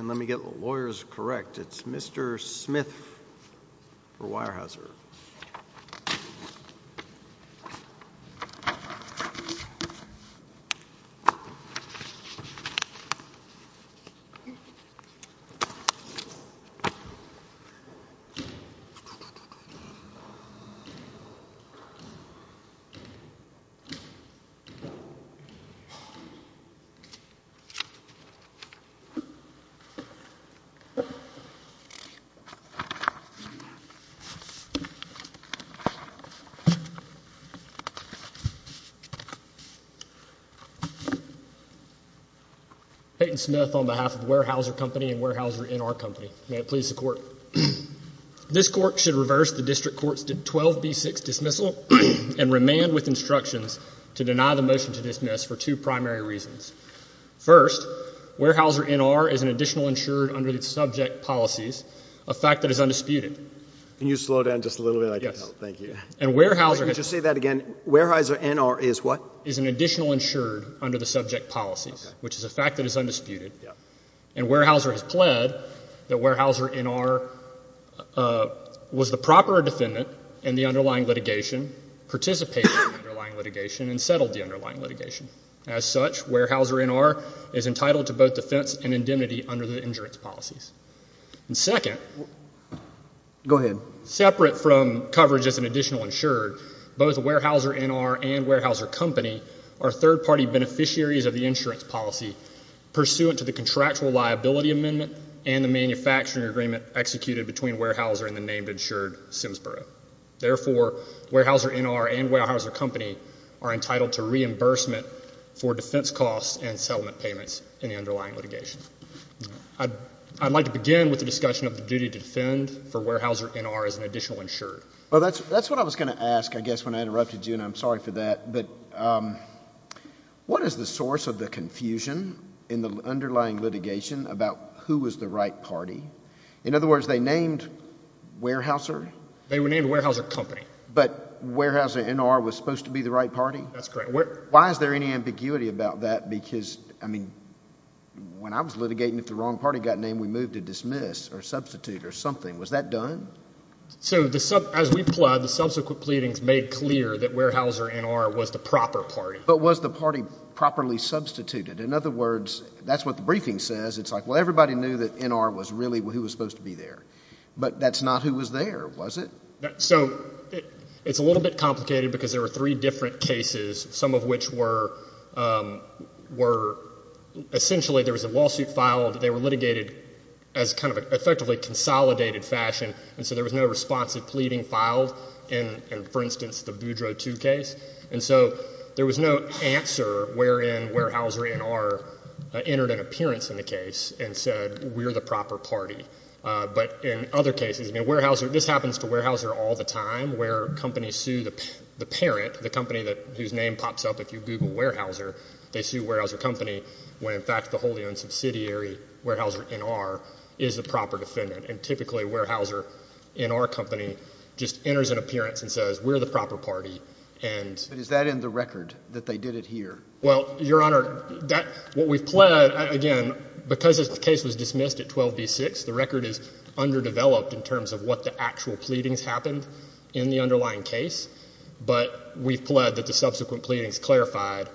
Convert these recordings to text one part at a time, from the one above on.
Let me get the lawyers correct. It's Mr. Smith for Weyerhaeuser. Peyton Smith on behalf of Weyerhaeuser Company and Weyerhaeuser N.R. Company. May it please the court. This court should reverse the district court's 12B6 dismissal and remand with instructions to deny the motion to dismiss for two primary reasons. First, Weyerhaeuser N.R. is an additional insured under the subject policies, a fact that is undisputed. Can you slow down just a little bit? I can't help. Thank you. And Weyerhaeuser Can you just say that again? Weyerhaeuser N.R. is what? Is an additional insured under the subject policies, which is a fact that is undisputed. And Weyerhaeuser has pled that Weyerhaeuser N.R. was the proper defendant in the underlying litigation, participated in the underlying litigation, and settled the underlying litigation. As such, Weyerhaeuser N.R. is entitled to both defense and indemnity under the insurance policies. And second. Go ahead. Separate from coverage as an additional insured, both Weyerhaeuser N.R. and Weyerhaeuser Company are third party beneficiaries of the insurance policy, pursuant to the contractual liability amendment and the manufacturing agreement executed between Weyerhaeuser and the named insured, Simsboro. Therefore, Weyerhaeuser N.R. and Weyerhaeuser Company are entitled to reimbursement for defense costs and settlement payments in the underlying litigation. I'd like to begin with the discussion of the duty to defend for Weyerhaeuser N.R. as an additional insured. Well, that's what I was going to ask, I guess, when I interrupted you, and I'm sorry for that. But what is the source of the confusion in the underlying litigation about who was the right party? In other words, they named Weyerhaeuser? They were named Weyerhaeuser Company. But Weyerhaeuser N.R. was supposed to be the right party? That's correct. Why is there any ambiguity about that? Because, I mean, when I was litigating, if the wrong party got named, we moved to dismiss or substitute or something. Was that done? So as we plied, the subsequent pleadings made clear that Weyerhaeuser N.R. was the proper party. But was the party properly substituted? In other words, that's what the briefing says. It's like, well, everybody knew that N.R. was really who was supposed to be there. But that's not who was there, was it? So it's a little bit complicated because there were three different cases, some of which were essentially there was a lawsuit filed. They were litigated as kind of an effectively consolidated fashion. And so there was no responsive pleading filed in, for instance, the Boudreaux 2 case. And so there was no answer wherein Weyerhaeuser N.R. entered an appearance in the case and said we're the proper party. But in other cases, I mean, Weyerhaeuser, this happens to Weyerhaeuser all the time where companies sue the parent, the company whose name pops up if you Google Weyerhaeuser. They sue Weyerhaeuser Company when, in fact, the wholly owned subsidiary, Weyerhaeuser N.R., is the proper defendant. And typically, Weyerhaeuser N.R. Company just enters an appearance and says we're the proper party. But is that in the record that they did it here? Well, Your Honor, what we've pled, again, because the case was dismissed at 12B6, the record is underdeveloped in terms of what the actual pleadings happened in the underlying case. But we've pled that the subsequent pleadings clarified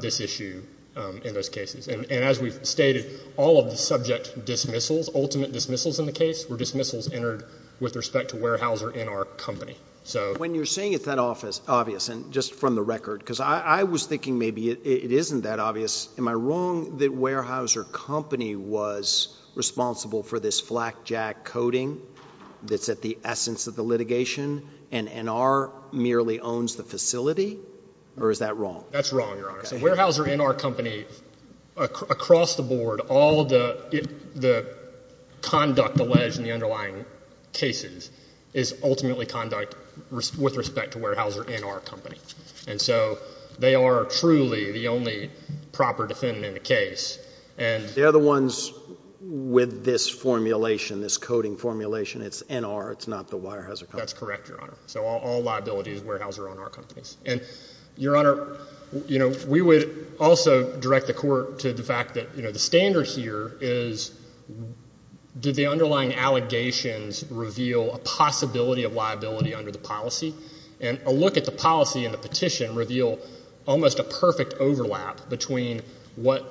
this issue in those cases. And as we've stated, all of the subject dismissals, ultimate dismissals in the case, were dismissals entered with respect to Weyerhaeuser N.R. Company. When you're saying it's that obvious, and just from the record, because I was thinking maybe it isn't that obvious. Am I wrong that Weyerhaeuser Company was responsible for this flakjack coding that's at the essence of the litigation and N.R. merely owns the facility? Or is that wrong? That's wrong, Your Honor. So Weyerhaeuser N.R. Company, across the board, all the conduct alleged in the underlying cases is ultimately conduct with respect to Weyerhaeuser N.R. Company. And so they are truly the only proper defendant in the case. They're the ones with this formulation, this coding formulation. It's N.R. It's not the Weyerhaeuser Company. That's correct, Your Honor. So all liability is Weyerhaeuser N.R. Company. And, Your Honor, you know, we would also direct the Court to the fact that, you know, the standard here is did the underlying allegations reveal a possibility of liability under the policy? And a look at the policy and the petition reveal almost a perfect overlap between what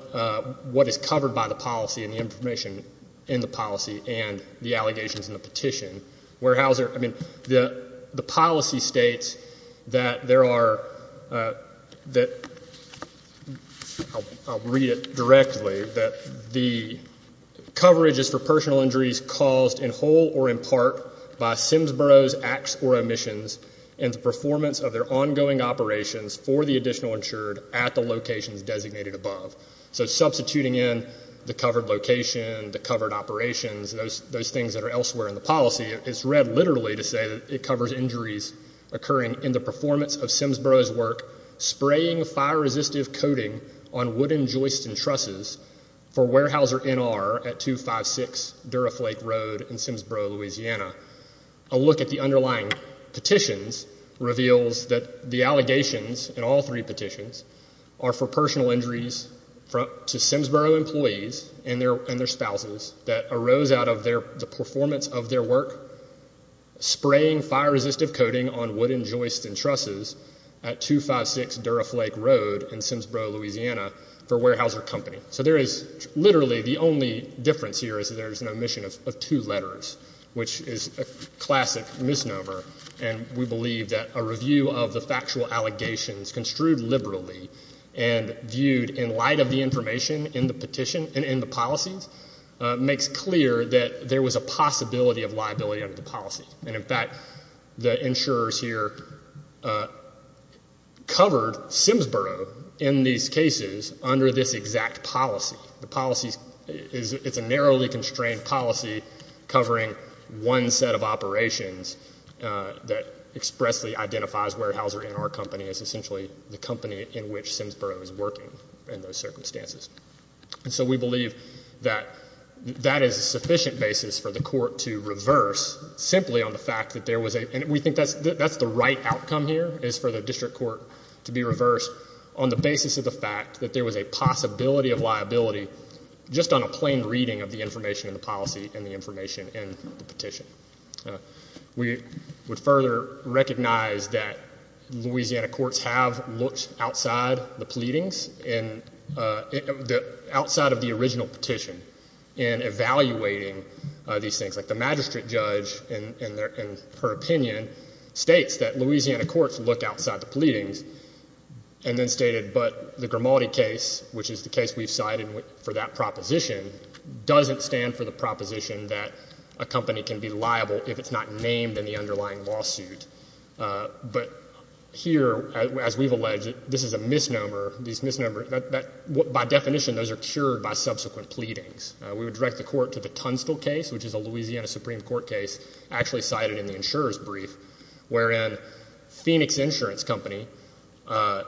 is covered by the policy and the information in the policy and the allegations in the petition. Weyerhaeuser, I mean, the policy states that there are, that I'll read it directly, that the coverage is for personal injuries caused in whole or in part by Simsboro's acts or omissions and the performance of their ongoing operations for the additional insured at the locations designated above. So substituting in the covered location, the covered operations, those things that are elsewhere in the policy, it's read literally to say that it covers injuries occurring in the performance of Simsboro's work spraying fire-resistive coating on wooden joists and trusses for Weyerhaeuser N.R. at 256 Duraflake Road in Simsboro, Louisiana. A look at the underlying petitions reveals that the allegations in all three petitions are for personal injuries to Simsboro employees and their spouses that arose out of the performance of their work spraying fire-resistive coating on wooden joists and trusses at 256 Duraflake Road in Simsboro, Louisiana for Weyerhaeuser Company. So there is literally the only difference here is that there is an omission of two letters, which is a classic misnomer, and we believe that a review of the factual allegations construed liberally and viewed in light of the information in the petition and in the policies makes clear that there was a possibility of liability under the policy. And in fact, the insurers here covered Simsboro in these cases under this exact policy. The policy is a narrowly constrained policy covering one set of operations that expressly identifies Weyerhaeuser N.R. Company as essentially the company in which Simsboro is working in those circumstances. And so we believe that that is a sufficient basis for the court to reverse simply on the fact that there was a and we think that's the right outcome here is for the district court to be reversed on the basis of the fact that there was a possibility of liability just on a plain reading of the information in the policy and the information in the petition. We would further recognize that Louisiana courts have looked outside the pleadings and outside of the original petition in evaluating these things. Like the magistrate judge in her opinion states that Louisiana courts look outside the pleadings and then stated, but the Grimaldi case, which is the case we've cited for that proposition, doesn't stand for the proposition that a company can be liable if it's not named in the underlying lawsuit. But here, as we've alleged, this is a misnomer. By definition, those are cured by subsequent pleadings. We would direct the court to the Tunstall case, which is a Louisiana Supreme Court case actually cited in the insurer's brief, wherein Phoenix Insurance Company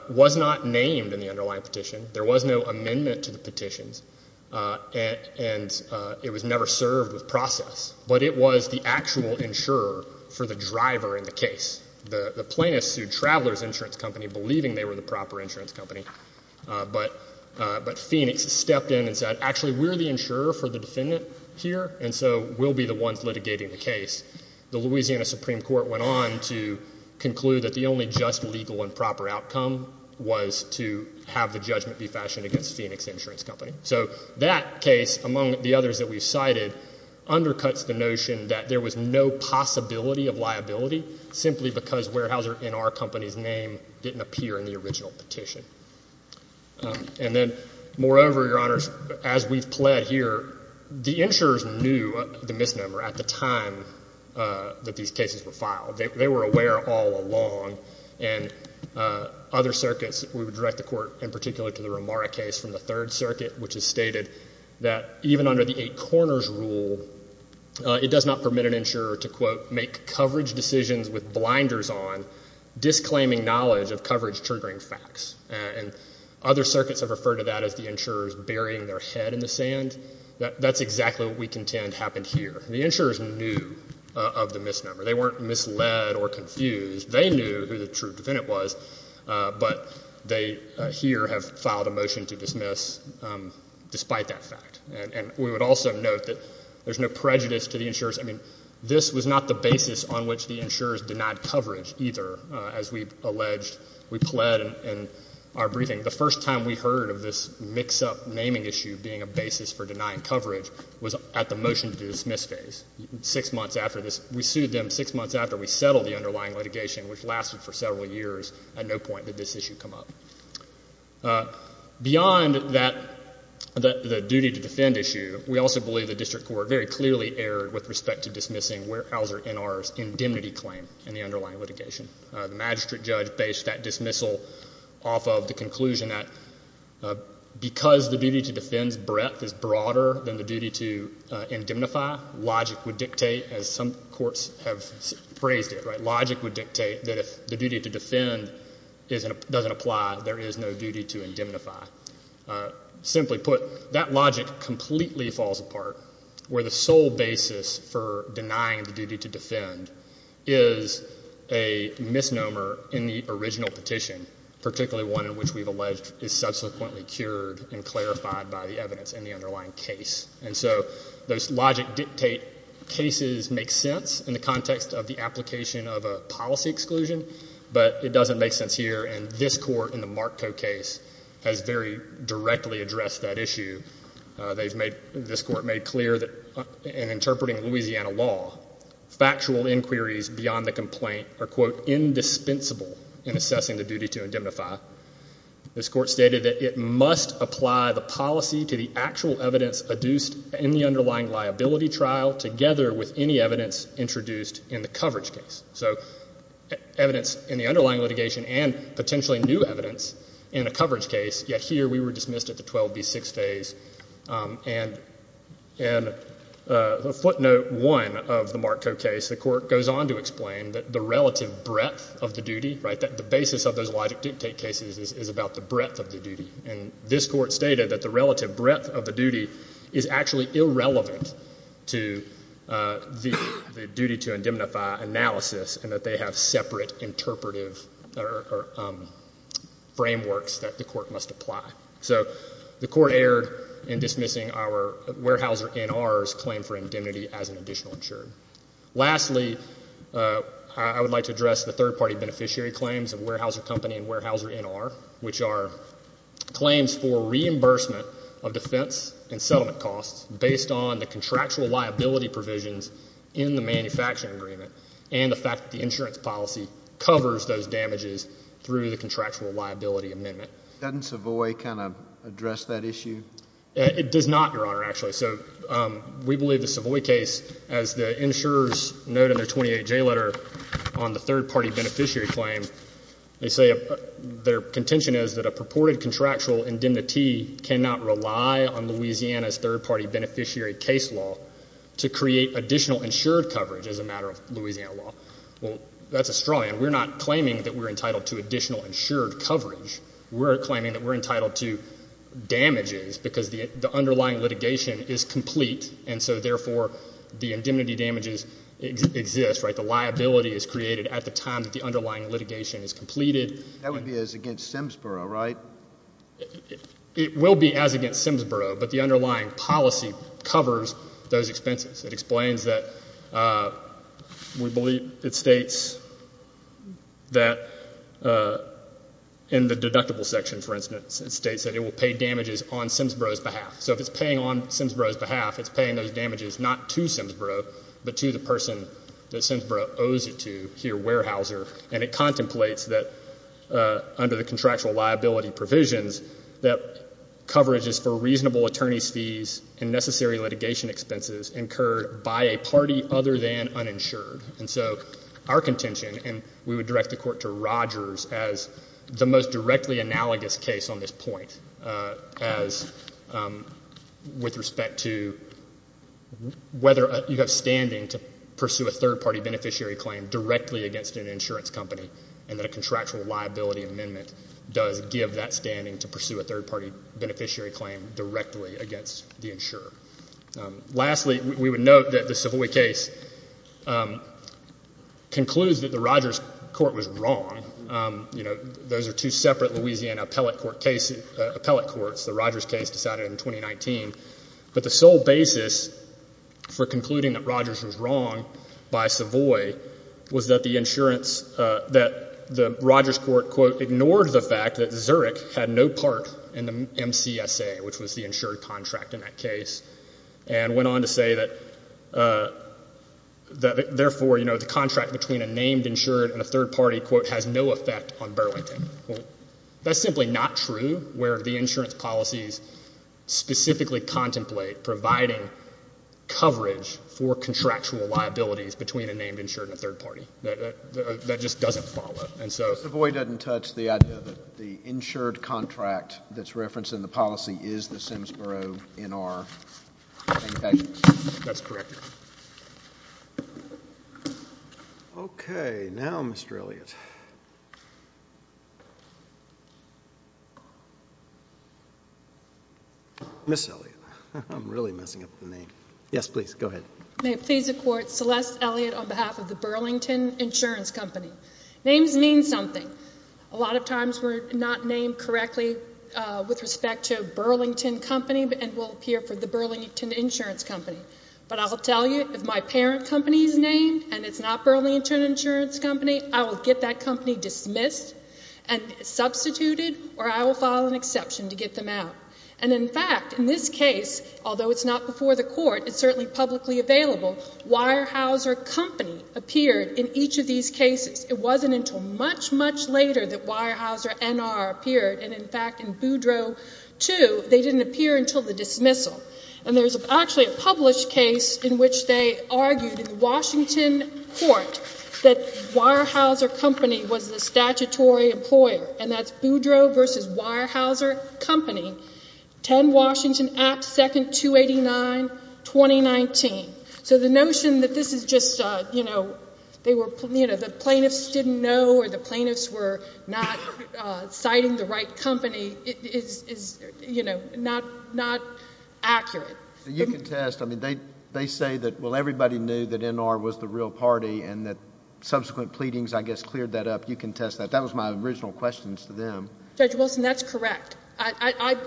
was not named in the underlying petition. There was no amendment to the petitions, and it was never served with process, but it was the actual insurer for the driver in the case. The plaintiff sued Travelers Insurance Company, believing they were the proper insurance company, but Phoenix stepped in and said, actually, we're the insurer for the defendant here, and so we'll be the ones litigating the case. The Louisiana Supreme Court went on to conclude that the only just, legal, and proper outcome was to have the judgment be fashioned against Phoenix Insurance Company. So that case, among the others that we've cited, undercuts the notion that there was no possibility of liability, simply because Weyerhaeuser, in our company's name, didn't appear in the original petition. And then, moreover, Your Honors, as we've pled here, the insurers knew the misnomer. At the time that these cases were filed, they were aware all along. And other circuits, we would direct the court, in particular, to the Romara case from the Third Circuit, which has stated that even under the eight corners rule, it does not permit an insurer to, quote, make coverage decisions with blinders on, disclaiming knowledge of coverage-triggering facts. And other circuits have referred to that as the insurers burying their head in the sand. That's exactly what we contend happened here. The insurers knew of the misnomer. They weren't misled or confused. They knew who the true defendant was, but they here have filed a motion to dismiss, despite that fact. And we would also note that there's no prejudice to the insurers. I mean, this was not the basis on which the insurers denied coverage either, as we've alleged. We pled in our briefing, the first time we heard of this mix-up naming issue being a basis for denying coverage was at the motion-to-dismiss phase. Six months after this, we sued them six months after we settled the underlying litigation, which lasted for several years. At no point did this issue come up. Beyond that, the duty-to-defend issue, we also believe the district court very clearly erred with respect to dismissing Wehrauser N.R.'s indemnity claim in the underlying litigation. The magistrate judge based that dismissal off of the conclusion that because the duty-to-defend's breadth is broader than the duty-to-indemnify, logic would dictate, as some courts have phrased it, right, logic would dictate that if the duty-to-defend doesn't apply, there is no duty-to-indemnify. Simply put, that logic completely falls apart, where the sole basis for denying the duty-to-defend is a misnomer in the original petition, particularly one in which we've alleged is subsequently cured and clarified by the evidence in the underlying case. And so those logic dictate cases make sense in the context of the application of a policy exclusion, but it doesn't make sense here. And this court in the Markko case has very directly addressed that issue. This court made clear that in interpreting Louisiana law, factual inquiries beyond the complaint are, quote, indispensable in assessing the duty-to-indemnify. This court stated that it must apply the policy to the actual evidence adduced in the underlying liability trial together with any evidence introduced in the coverage case. So evidence in the underlying litigation and potentially new evidence in a coverage case, yet here we were dismissed at the 12B6 phase. And in footnote 1 of the Markko case, the court goes on to explain that the relative breadth of the duty, right, that the basis of those logic dictate cases is about the breadth of the duty. And this court stated that the relative breadth of the duty is actually irrelevant to the duty-to-indemnify analysis and that they have separate interpretive frameworks that the court must apply. So the court erred in dismissing our Weyerhaeuser N.R.'s claim for indemnity as an additional insurer. Lastly, I would like to address the third-party beneficiary claims of Weyerhaeuser Company and Weyerhaeuser N.R., which are claims for reimbursement of defense and settlement costs based on the contractual liability provisions in the manufacturing agreement and the fact that the insurance policy covers those damages through the contractual liability amendment. Doesn't Savoy kind of address that issue? It does not, Your Honor, actually. So we believe the Savoy case, as the insurers note in their 28J letter on the third-party beneficiary claim, they say their contention is that a purported contractual indemnity cannot rely on Louisiana's third-party beneficiary case law to create additional insured coverage as a matter of Louisiana law. Well, that's a straw man. We're not claiming that we're entitled to additional insured coverage. We're claiming that we're entitled to damages because the underlying litigation is complete, and so therefore the indemnity damages exist, right? The liability is created at the time that the underlying litigation is completed. That would be as against Simsboro, right? It will be as against Simsboro, but the underlying policy covers those expenses. It explains that we believe it states that in the deductible section, for instance, it states that it will pay damages on Simsboro's behalf. So if it's paying on Simsboro's behalf, it's paying those damages not to Simsboro, but to the person that Simsboro owes it to here, Weyerhaeuser, and it contemplates that under the contractual liability provisions that coverage is for reasonable attorney's fees and necessary litigation expenses incurred by a party other than uninsured. And so our contention, and we would direct the Court to Rogers as the most directly analogous case on this point, as with respect to whether you have standing to pursue a third-party beneficiary claim directly against an insurance company and that a contractual liability amendment does give that standing to pursue a third-party beneficiary claim directly against the insurer. Lastly, we would note that the Savoy case concludes that the Rogers court was wrong. Those are two separate Louisiana appellate courts. The Rogers case decided in 2019. But the sole basis for concluding that Rogers was wrong by Savoy was that the insurance, that the Rogers court, quote, ignored the fact that Zurich had no part in the MCSA, which was the insured contract in that case, and went on to say that, therefore, you know, the contract between a named insured and a third party, quote, has no effect on Burlington. That's simply not true where the insurance policies specifically contemplate providing coverage for contractual liabilities between a named insured and a third party. That just doesn't follow. And so Savoy doesn't touch the idea that the insured contract that's referenced in the policy is the Simsboro NR. That's correct. Thank you. Okay. Now, Mr. Elliott. Ms. Elliott. I'm really messing up the name. Yes, please, go ahead. May it please the Court, Celeste Elliott on behalf of the Burlington Insurance Company. Names mean something. A lot of times we're not named correctly with respect to Burlington Company and will appear for the Burlington Insurance Company. But I will tell you, if my parent company is named and it's not Burlington Insurance Company, I will get that company dismissed and substituted, or I will file an exception to get them out. And in fact, in this case, although it's not before the Court, it's certainly publicly available, Weyerhaeuser Company appeared in each of these cases. It wasn't until much, much later that Weyerhaeuser NR appeared. And in fact, in Boudreaux II, they didn't appear until the dismissal. And there's actually a published case in which they argued in the Washington Court that Weyerhaeuser Company was the statutory employer. And that's Boudreaux v. Weyerhaeuser Company, 10 Washington, Act II, 289, 2019. So the notion that this is just, you know, they were, you know, the plaintiffs didn't know or the plaintiffs were not citing the right company is, you know, not accurate. You can test. I mean, they say that, well, everybody knew that NR was the real party and that subsequent pleadings, I guess, cleared that up. You can test that. That was my original questions to them. Judge Wilson, that's correct. I,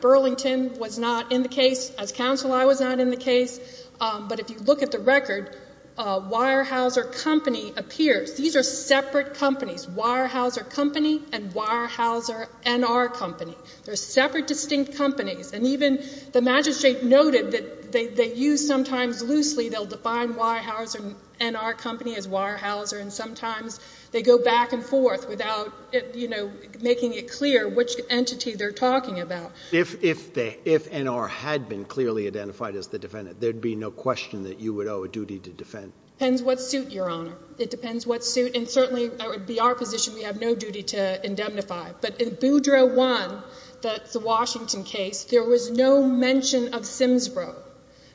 Burlington, was not in the case. As counsel, I was not in the case. But if you look at the record, Weyerhaeuser Company appears. These are separate companies, Weyerhaeuser Company and Weyerhaeuser NR Company. They're separate, distinct companies. And even the magistrate noted that they use sometimes loosely, they'll define Weyerhaeuser NR Company as Weyerhaeuser and sometimes they go back and forth without, you know, making it clear which entity they're talking about. If NR had been clearly identified as the defendant, there'd be no question that you would owe a duty to defend. Depends what suit, Your Honor. It depends what suit. And certainly that would be our position. We have no duty to indemnify. But in Boudreau 1, the Washington case, there was no mention of Simsboro.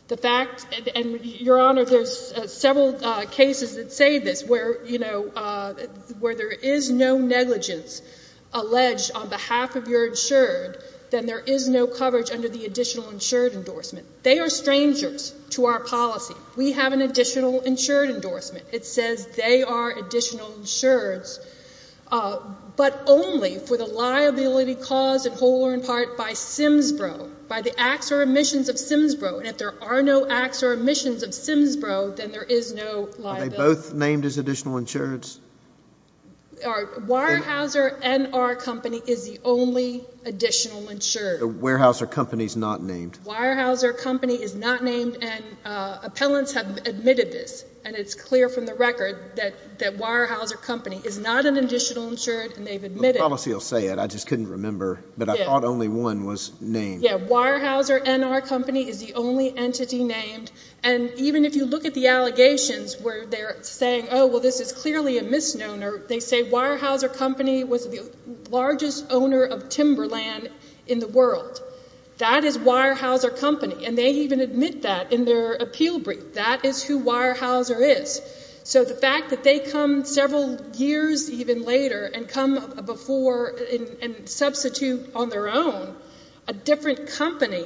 The fact, and, Your Honor, there's several cases that say this, where, you know, where there is no negligence alleged on behalf of your insured, then there is no coverage under the additional insured endorsement. They are strangers to our policy. We have an additional insured endorsement. It says they are additional insureds, but only for the liability caused in whole or in part by Simsboro, by the acts or omissions of Simsboro. And if there are no acts or omissions of Simsboro, then there is no liability. Are they both named as additional insureds? Weyerhaeuser NR Company is the only additional insured. The Weyerhaeuser Company is not named. Weyerhaeuser Company is not named, and appellants have admitted this, and it's clear from the record that Weyerhaeuser Company is not an additional insured, and they've admitted it. The policy will say it. I just couldn't remember, but I thought only one was named. Yeah. Weyerhaeuser NR Company is the only entity named. And even if you look at the allegations where they're saying, oh, well, this is clearly a misnomer, they say Weyerhaeuser Company was the largest owner of timberland in the world. That is Weyerhaeuser Company, and they even admit that in their appeal brief. That is who Weyerhaeuser is. So the fact that they come several years even later and come before and substitute on their own a different company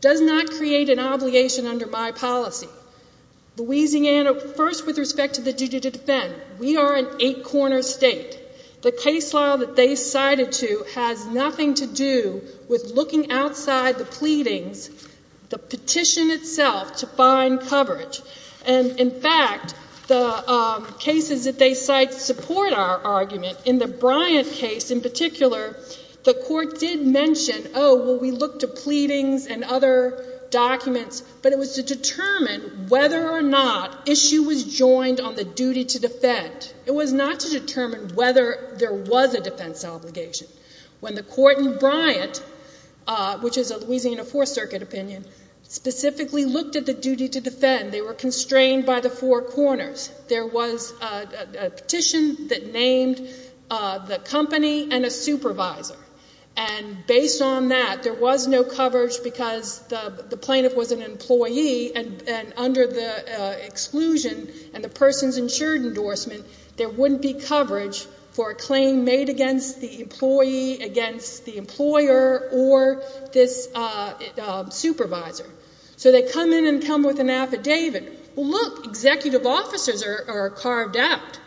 does not create an obligation under my policy. Louisiana, first with respect to the duty to defend, we are an eight-corner state. The case file that they cited to has nothing to do with looking outside the pleadings, the petition itself to find coverage. And, in fact, the cases that they cite support our argument. In the Bryant case in particular, the court did mention, oh, well, we looked to pleadings and other documents, but it was to determine whether or not issue was joined on the duty to defend. It was not to determine whether there was a defense obligation. When the court in Bryant, which is a Louisiana Fourth Circuit opinion, specifically looked at the duty to defend, they were constrained by the four corners. There was a petition that named the company and a supervisor. And based on that, there was no coverage because the plaintiff was an employee and under the exclusion and the person's insured endorsement, there wouldn't be coverage for a claim made against the employee, against the employer, or this supervisor. So they come in and come with an affidavit. Well, look, executive officers are carved out,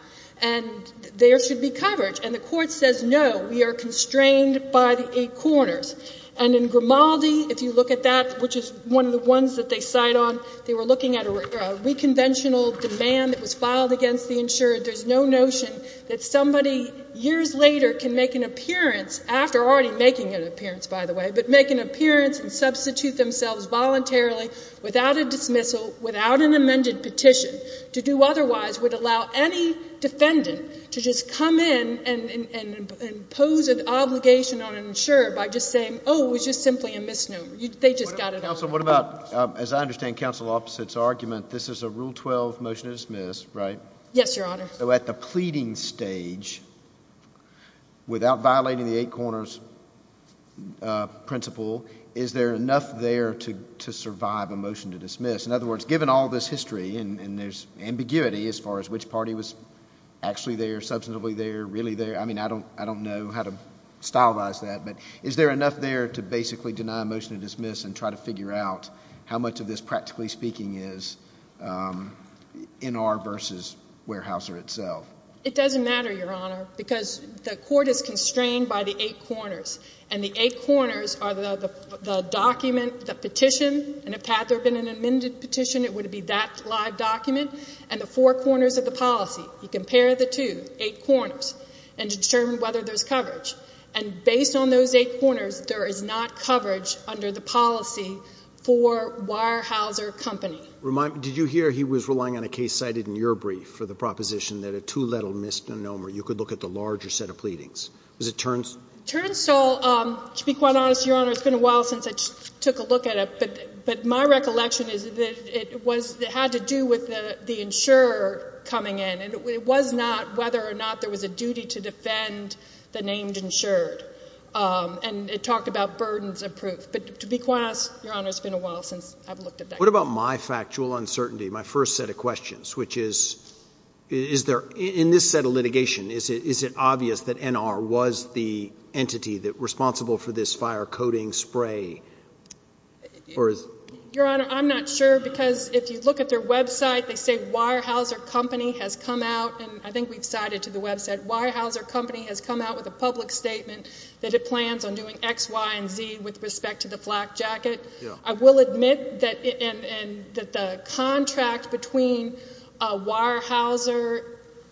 and there should be coverage. And the court says, no, we are constrained by the eight corners. And in Grimaldi, if you look at that, which is one of the ones that they cite on, they were looking at a reconventional demand that was filed against the insured. There's no notion that somebody years later can make an appearance, after already making an appearance, by the way, but make an appearance and substitute themselves voluntarily without a dismissal, without an amended petition to do otherwise would allow any defendant to just come in and impose an obligation on an insurer by just saying, oh, it was just simply a misnomer. They just got it all wrong. Counsel, what about, as I understand Counsel Opposite's argument, this is a Rule 12 motion to dismiss, right? Yes, Your Honor. So at the pleading stage, without violating the eight corners principle, is there enough there to survive a motion to dismiss? In other words, given all this history and there's ambiguity as far as which party was actually there, substantively there, really there, I mean, I don't know how to stylize that, but is there enough there to basically deny a motion to dismiss and try to figure out how much of this, practically speaking, is NR versus Weyerhaeuser itself? It doesn't matter, Your Honor, because the court is constrained by the eight corners, and the eight corners are the document, the petition, and if there had been an amended petition, it would be that live document, and the four corners of the policy. You compare the two, eight corners, and determine whether there's coverage. And based on those eight corners, there is not coverage under the policy for Weyerhaeuser Company. Did you hear he was relying on a case cited in your brief for the proposition that a two-letter misnomer, you could look at the larger set of pleadings? Was it Turnstall? Turnstall, to be quite honest, Your Honor, it's been a while since I took a look at it, but my recollection is that it had to do with the insurer coming in, and it was not whether or not there was a duty to defend the named insured, and it talked about burdens of proof. But to be quite honest, Your Honor, it's been a while since I've looked at that. What about my factual uncertainty, my first set of questions, which is, in this set of litigation, is it obvious that NR was the entity responsible for this fire-coating spray? Your Honor, I'm not sure because if you look at their website, they say Weyerhaeuser Company has come out, and I think we've cited to the website, Weyerhaeuser Company has come out with a public statement that it plans on doing X, Y, and Z with respect to the flak jacket. I will admit that the contract between Weyerhaeuser,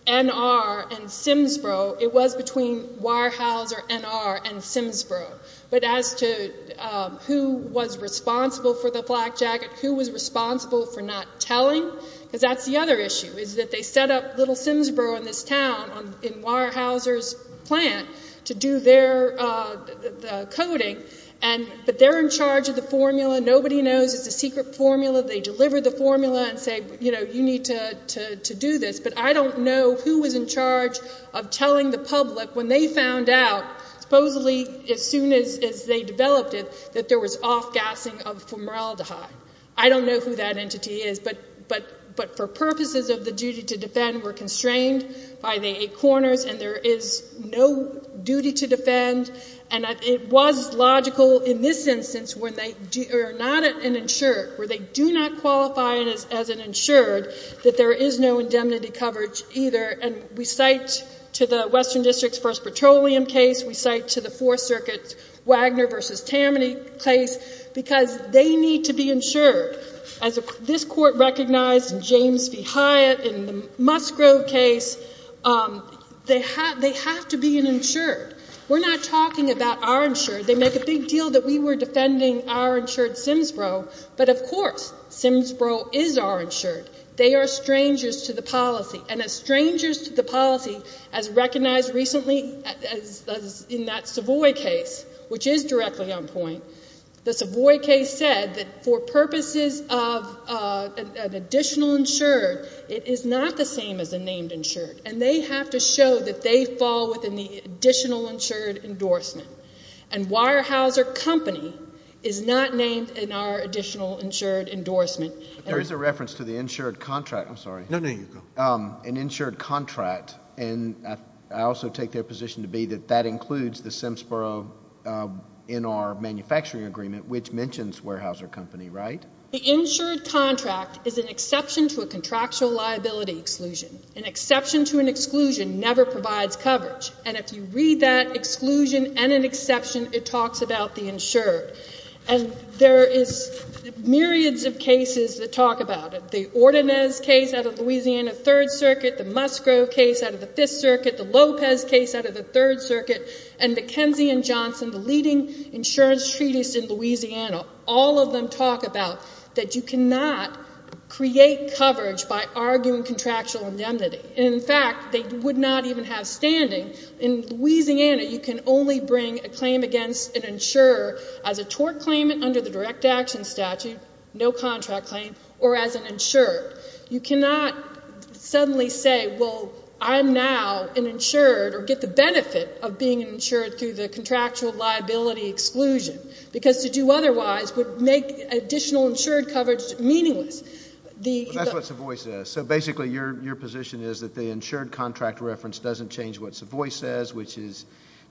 NR, and Simsboro, it was between Weyerhaeuser, NR, and Simsboro. But as to who was responsible for the flak jacket, who was responsible for not telling, because that's the other issue, is that they set up little Simsboro in this town in Weyerhaeuser's plant to do their coating, but they're in charge of the formula. Nobody knows. It's a secret formula. They deliver the formula and say, you know, you need to do this. But I don't know who was in charge of telling the public when they found out, supposedly as soon as they developed it, that there was off-gassing of formaldehyde. I don't know who that entity is. But for purposes of the duty to defend, we're constrained by the eight corners, and there is no duty to defend. And it was logical in this instance when they are not an insured, where they do not qualify as an insured, that there is no indemnity coverage either. And we cite to the Western District's first petroleum case. We cite to the Fourth Circuit's Wagner v. Tammany case because they need to be insured. As this Court recognized in James v. Hyatt, in the Musgrove case, they have to be an insured. We're not talking about our insured. They make a big deal that we were defending our insured Simsboro. But, of course, Simsboro is our insured. They are strangers to the policy. And as strangers to the policy as recognized recently in that Savoy case, which is directly on point, the Savoy case said that for purposes of an additional insured, it is not the same as a named insured. And they have to show that they fall within the additional insured endorsement. And Weyerhaeuser Company is not named in our additional insured endorsement. There is a reference to the insured contract. I'm sorry. No, no, you go. An insured contract. And I also take their position to be that that includes the Simsboro in our manufacturing agreement, which mentions Weyerhaeuser Company, right? The insured contract is an exception to a contractual liability exclusion. An exception to an exclusion never provides coverage. And if you read that exclusion and an exception, it talks about the insured. And there is myriads of cases that talk about it. The Ordonez case out of Louisiana Third Circuit, the Musgrove case out of the Fifth Circuit, the Lopez case out of the Third Circuit, and McKenzie and Johnson, the leading insurance treaties in Louisiana, all of them talk about that you cannot create coverage by arguing contractual indemnity. In fact, they would not even have standing. In Louisiana, you can only bring a claim against an insurer as a tort claimant under the direct action statute, no contract claim, or as an insurer. You cannot suddenly say, well, I'm now an insured, or get the benefit of being an insured through the contractual liability exclusion, because to do otherwise would make additional insured coverage meaningless. That's what Savoie says. So basically your position is that the insured contract reference doesn't change what Savoie says, which is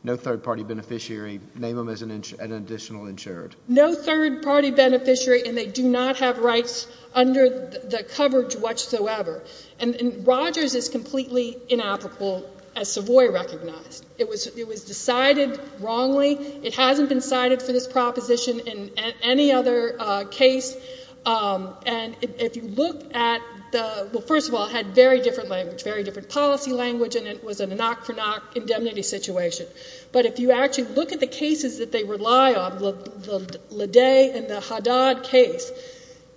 no third-party beneficiary, name them as an additional insured. No third-party beneficiary, and they do not have rights under the coverage whatsoever. And Rogers is completely inapplicable, as Savoie recognized. It was decided wrongly. It hasn't been cited for this proposition in any other case. And if you look at the, well, first of all, it had very different language, very different policy language, and it was a knock-for-knock indemnity situation. But if you actually look at the cases that they rely on, the Ledet and the Haddad case,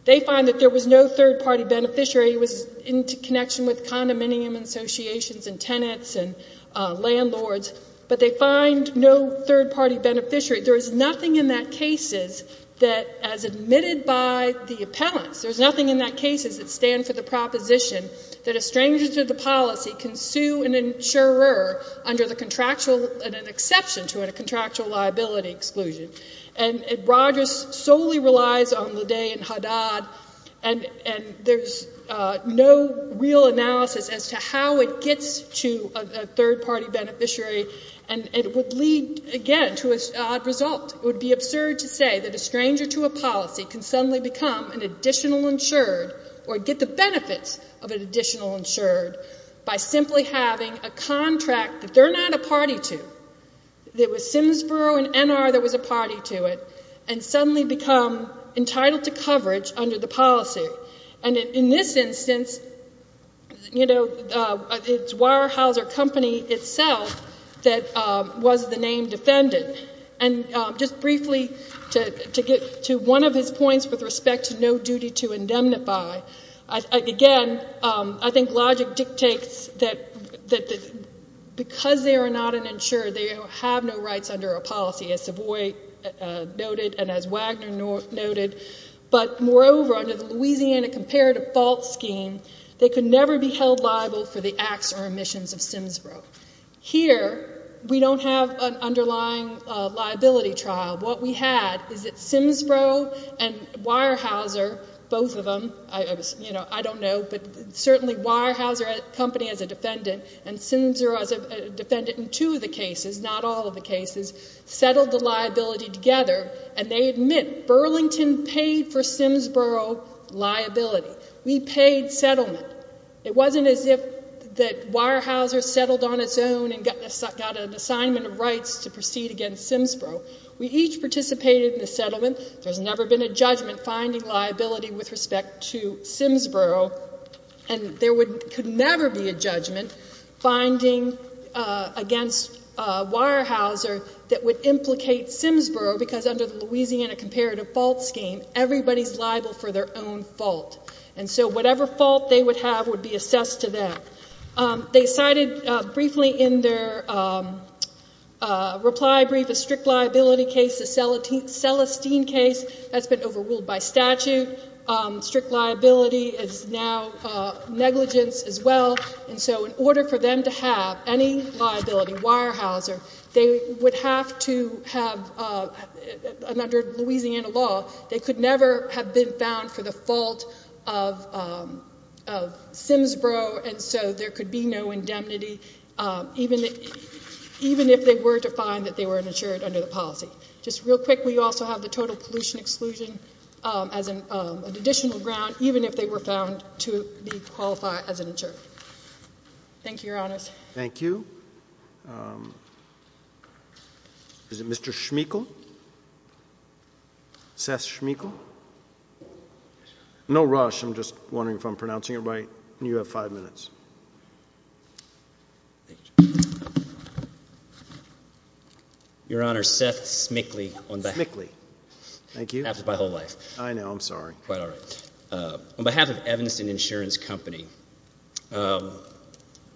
they find that there was no third-party beneficiary. It was in connection with condominium associations and tenants and landlords, but they find no third-party beneficiary. There is nothing in that case that, as admitted by the appellants, there's nothing in that case that stands for the proposition that a stranger to the policy can sue an insurer under the contractual, an exception to a contractual liability exclusion. And Rogers solely relies on Ledet and Haddad, and there's no real analysis as to how it gets to a third-party beneficiary, and it would lead, again, to an odd result. It would be absurd to say that a stranger to a policy can suddenly become an additional insured or get the benefits of an additional insured by simply having a contract that they're not a party to, that with Simsboro and NR there was a party to it, and suddenly become entitled to coverage under the policy. And in this instance, you know, it's Weyerhaeuser Company itself that was the named defendant. And just briefly, to get to one of his points with respect to no duty to indemnify, again, I think logic dictates that because they are not an insured, they have no rights under a policy, as Savoy noted and as Wagner noted. But moreover, under the Louisiana Comparative Fault Scheme, they could never be held liable for the acts or omissions of Simsboro. Here, we don't have an underlying liability trial. What we had is that Simsboro and Weyerhaeuser, both of them, you know, I don't know, but certainly Weyerhaeuser Company as a defendant and Simsboro as a defendant in two of the cases, not all of the cases, settled the liability together, and they admit Burlington paid for Simsboro liability. We paid settlement. It wasn't as if Weyerhaeuser settled on its own and got an assignment of rights to proceed against Simsboro. We each participated in the settlement. There's never been a judgment finding liability with respect to Simsboro, and there could never be a judgment finding against Weyerhaeuser that would implicate Simsboro because under the Louisiana Comparative Fault Scheme, everybody's liable for their own fault. And so whatever fault they would have would be assessed to them. They cited briefly in their reply brief a strict liability case, a Celestine case. That's been overruled by statute. Strict liability is now negligence as well. And so in order for them to have any liability, Weyerhaeuser, they would have to have, under Louisiana law, they could never have been found for the fault of Simsboro, and so there could be no indemnity even if they were to find that they were an insured under the policy. Just real quick, we also have the total pollution exclusion as an additional ground, even if they were found to be qualified as an insured. Thank you, Your Honors. Thank you. Is it Mr. Schmeichel? Seth Schmeichel? No rush, I'm just wondering if I'm pronouncing it right. You have five minutes. Your Honor, Seth Schmeichel. Schmeichel. Thank you. Happens my whole life. I know. I'm sorry. Quite all right. On behalf of Evanston Insurance Company,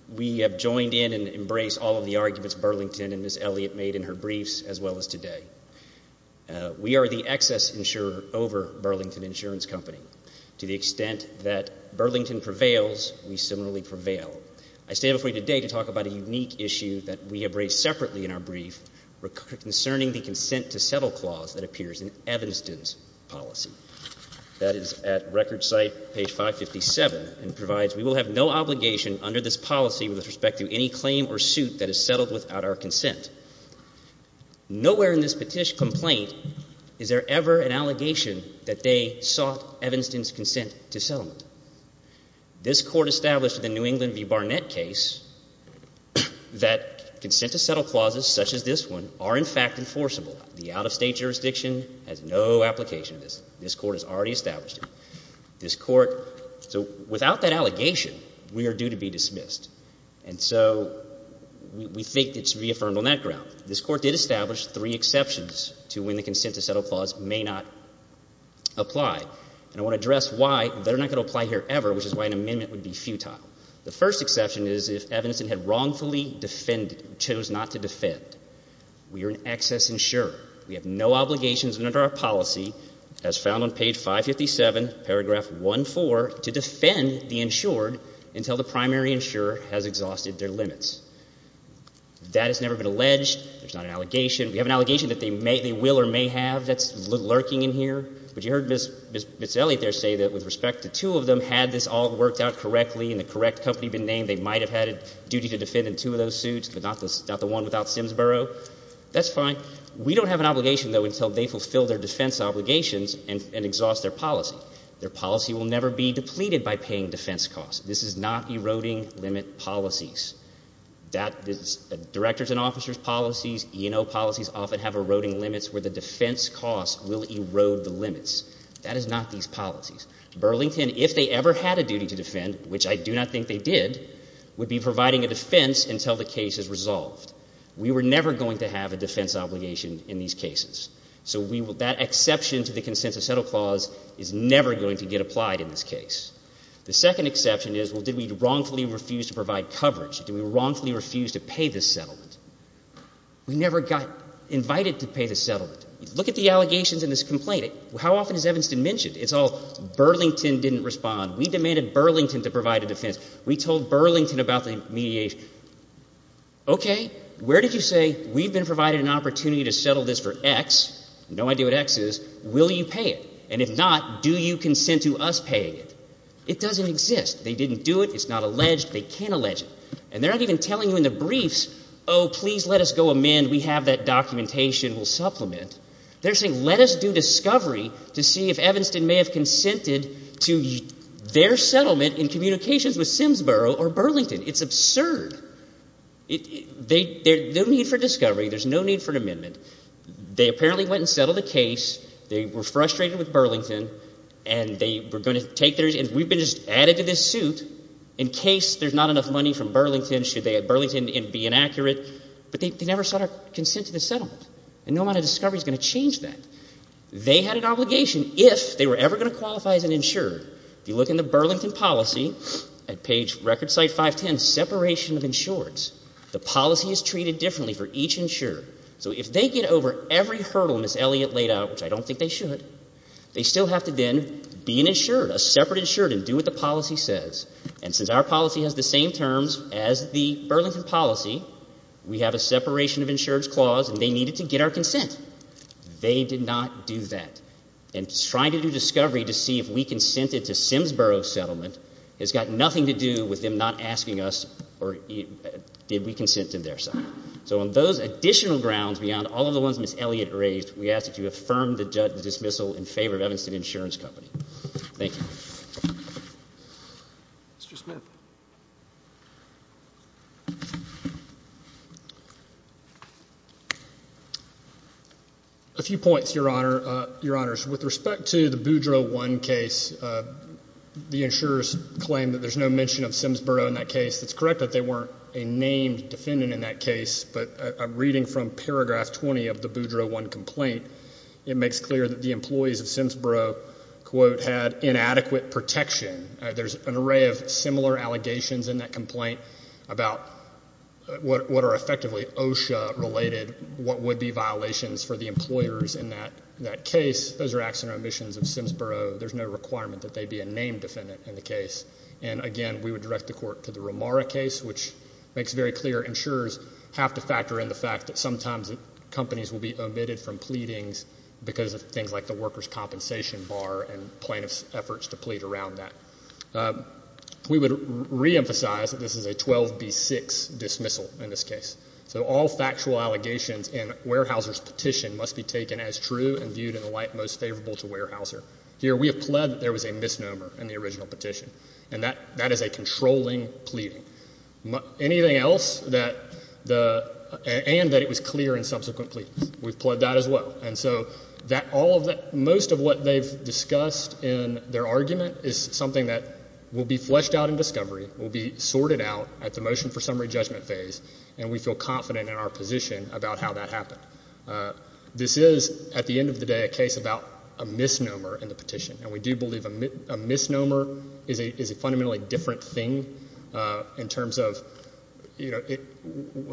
we have joined in and embraced all of the arguments Burlington and Ms. Elliott made in her briefs as well as today. We are the excess insurer over Burlington Insurance Company to the extent that Burlington prevails, we similarly prevail. I stand before you today to talk about a unique issue that we have raised separately in our brief concerning the consent to settle clause that appears in Evanston's policy. That is at record site, page 557, and provides we will have no obligation under this policy with respect to any claim or suit that is settled without our consent. Nowhere in this petition complaint is there ever an allegation that they sought Evanston's consent to settlement. This court established in the New England v. Barnett case that consent to settle clauses such as this one are in fact enforceable. The out-of-state jurisdiction has no application to this. This court has already established it. This court, so without that allegation, we are due to be dismissed. And so we think it should be affirmed on that ground. This court did establish three exceptions to when the consent to settle clause may not apply. And I want to address why they're not going to apply here ever, which is why an amendment would be futile. The first exception is if Evanston had wrongfully defended, chose not to defend. We are an excess insurer. We have no obligations under our policy as found on page 557, paragraph 1-4, to defend the insured until the primary insurer has exhausted their limits. That has never been alleged. There's not an allegation. We have an allegation that they will or may have that's lurking in here. But you heard Ms. Elliott there say that with respect to two of them, had this all worked out correctly and the correct company been named, they might have had a duty to defend in two of those suits, but not the one without Simsboro. That's fine. We don't have an obligation, though, until they fulfill their defense obligations and exhaust their policy. Their policy will never be depleted by paying defense costs. This is not eroding limit policies. Directors and officers' policies, E&O policies, often have eroding limits where the defense costs will erode the limits. That is not these policies. Burlington, if they ever had a duty to defend, which I do not think they did, would be providing a defense until the case is resolved. We were never going to have a defense obligation in these cases. So that exception to the Consensus Settle Clause is never going to get applied in this case. The second exception is, well, did we wrongfully refuse to provide coverage? Did we wrongfully refuse to pay this settlement? We never got invited to pay the settlement. Look at the allegations in this complaint. How often is Evanston mentioned? It's all Burlington didn't respond. We demanded Burlington to provide a defense. We told Burlington about the mediation. Okay, where did you say we've been provided an opportunity to settle this for X, no idea what X is, will you pay it? And if not, do you consent to us paying it? It doesn't exist. They didn't do it. It's not alleged. They can't allege it. And they're not even telling you in the briefs, oh, please let us go amend. We have that documentation. We'll supplement. They're saying let us do discovery to see if Evanston may have consented to their settlement in communications with Simsboro or Burlington. It's absurd. There's no need for discovery. There's no need for an amendment. They apparently went and settled the case. They were frustrated with Burlington, and they were going to take their, and we've been just added to this suit in case there's not enough money from Burlington, should Burlington be inaccurate. But they never sought our consent to the settlement, and no amount of discovery is going to change that. They had an obligation if they were ever going to qualify as an insurer, if you look in the Burlington policy at page record site 510, separation of insurers, the policy is treated differently for each insurer. So if they get over every hurdle Ms. Elliott laid out, which I don't think they should, they still have to then be an insured, a separate insured and do what the policy says. And since our policy has the same terms as the Burlington policy, we have a separation of insurers clause, and they needed to get our consent. They did not do that. And trying to do discovery to see if we consented to Simsboro's settlement has got nothing to do with them not asking us did we consent to their settlement. So on those additional grounds beyond all of the ones Ms. Elliott raised, we ask that you affirm the dismissal in favor of Evanston Insurance Company. Thank you. Mr. Smith. A few points, Your Honor. Your Honors, with respect to the Boudreaux 1 case, the insurers claim that there's no mention of Simsboro in that case. It's correct that they weren't a named defendant in that case, but reading from paragraph 20 of the Boudreaux 1 complaint, it makes clear that the employees of Simsboro, quote, had inadequate protection. There's an array of similar allegations in that complaint about what are effectively OSHA-related, what would be violations for the employers in that case. Those are acts and omissions of Simsboro. There's no requirement that they be a named defendant in the case. And, again, we would direct the court to the Romara case, which makes very clear insurers have to factor in the fact that sometimes companies will be omitted from pleadings because of things like the workers' compensation bar and plaintiff's efforts to plead around that. We would reemphasize that this is a 12B6 dismissal in this case. So all factual allegations in Weyerhaeuser's petition must be taken as true and viewed in the light most favorable to Weyerhaeuser. Here we have pled that there was a misnomer in the original petition, and that is a controlling pleading. Anything else and that it was clear in subsequent pleadings, we've pled that as well. And so most of what they've discussed in their argument is something that will be fleshed out in discovery, will be sorted out at the motion for summary judgment phase, and we feel confident in our position about how that happened. This is, at the end of the day, a case about a misnomer in the petition, and we do believe a misnomer is a fundamentally different thing in terms of, you know,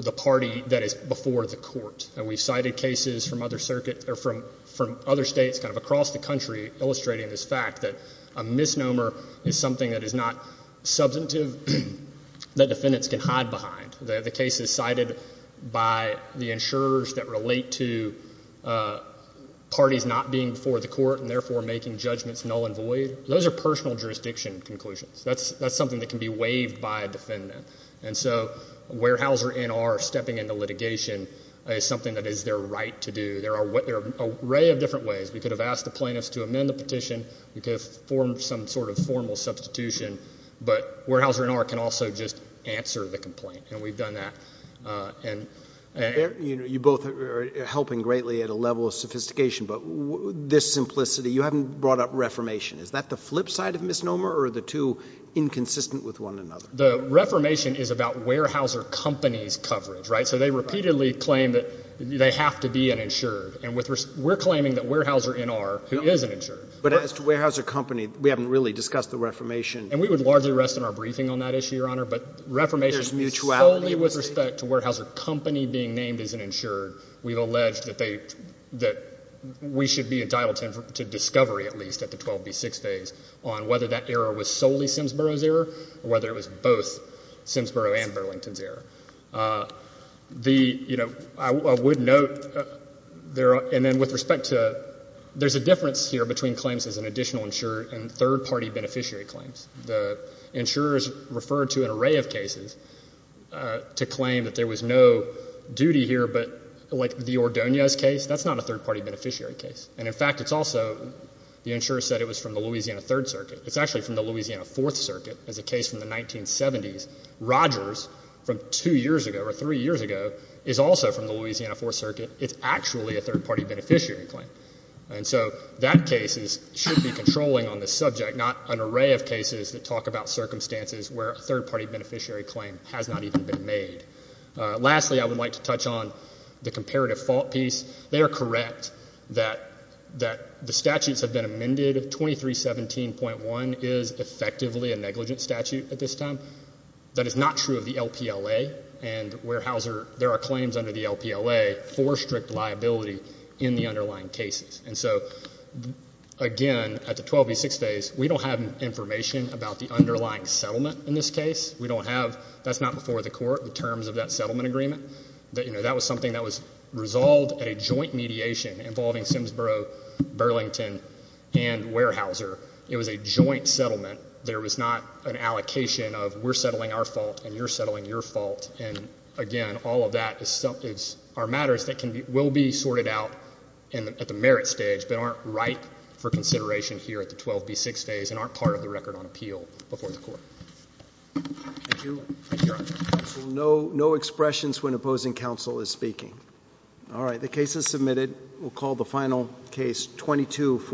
the party that is before the court. We've cited cases from other circuits or from other states kind of across the country illustrating this fact that a misnomer is something that is not substantive, that defendants can hide behind. The case is cited by the insurers that relate to parties not being before the court and therefore making judgments null and void. Those are personal jurisdiction conclusions. That's something that can be waived by a defendant. And so Weyerhaeuser N.R. stepping into litigation is something that is their right to do. There are an array of different ways. We could have asked the plaintiffs to amend the petition. We could have formed some sort of formal substitution. But Weyerhaeuser N.R. can also just answer the complaint, and we've done that. You both are helping greatly at a level of sophistication, but this simplicity, you haven't brought up reformation. Is that the flip side of misnomer, or are the two inconsistent with one another? The reformation is about Weyerhaeuser Company's coverage, right? So they repeatedly claim that they have to be an insured, and we're claiming that Weyerhaeuser N.R., who is an insured. But as to Weyerhaeuser Company, we haven't really discussed the reformation. And we would largely rest in our briefing on that issue, Your Honor. But reformation solely with respect to Weyerhaeuser Company being named as an insured, we've alleged that we should be entitled to discovery at least at the 12B6 phase on whether that error was solely Simsboro's error or whether it was both Simsboro and Burlington's error. I would note, and then with respect to, there's a difference here between claims as an additional insured and third-party beneficiary claims. The insurers referred to an array of cases to claim that there was no duty here, but like the Ordonez case, that's not a third-party beneficiary case. And, in fact, it's also the insurer said it was from the Louisiana Third Circuit. It's actually from the Louisiana Fourth Circuit. It's a case from the 1970s. Rogers, from two years ago or three years ago, is also from the Louisiana Fourth Circuit. It's actually a third-party beneficiary claim. And so that case should be controlling on the subject, not an array of cases that talk about circumstances where a third-party beneficiary claim has not even been made. Lastly, I would like to touch on the comparative fault piece. They are correct that the statutes have been amended. 2317.1 is effectively a negligent statute at this time. That is not true of the LPLA and Weyerhaeuser. There are claims under the LPLA for strict liability in the underlying cases. And so, again, at the 12 v. 6 days, we don't have information about the underlying settlement in this case. That's not before the court, the terms of that settlement agreement. That was something that was resolved at a joint mediation involving Simsboro, Burlington, and Weyerhaeuser. It was a joint settlement. There was not an allocation of we're settling our fault and you're settling your fault. And, again, all of that is our matters that will be sorted out at the merit stage but aren't right for consideration here at the 12 v. 6 days and aren't part of the record on appeal before the court. Thank you. Thank you, Your Honor. No expressions when opposing counsel is speaking. All right, the case is submitted. We'll call the final case, 2240.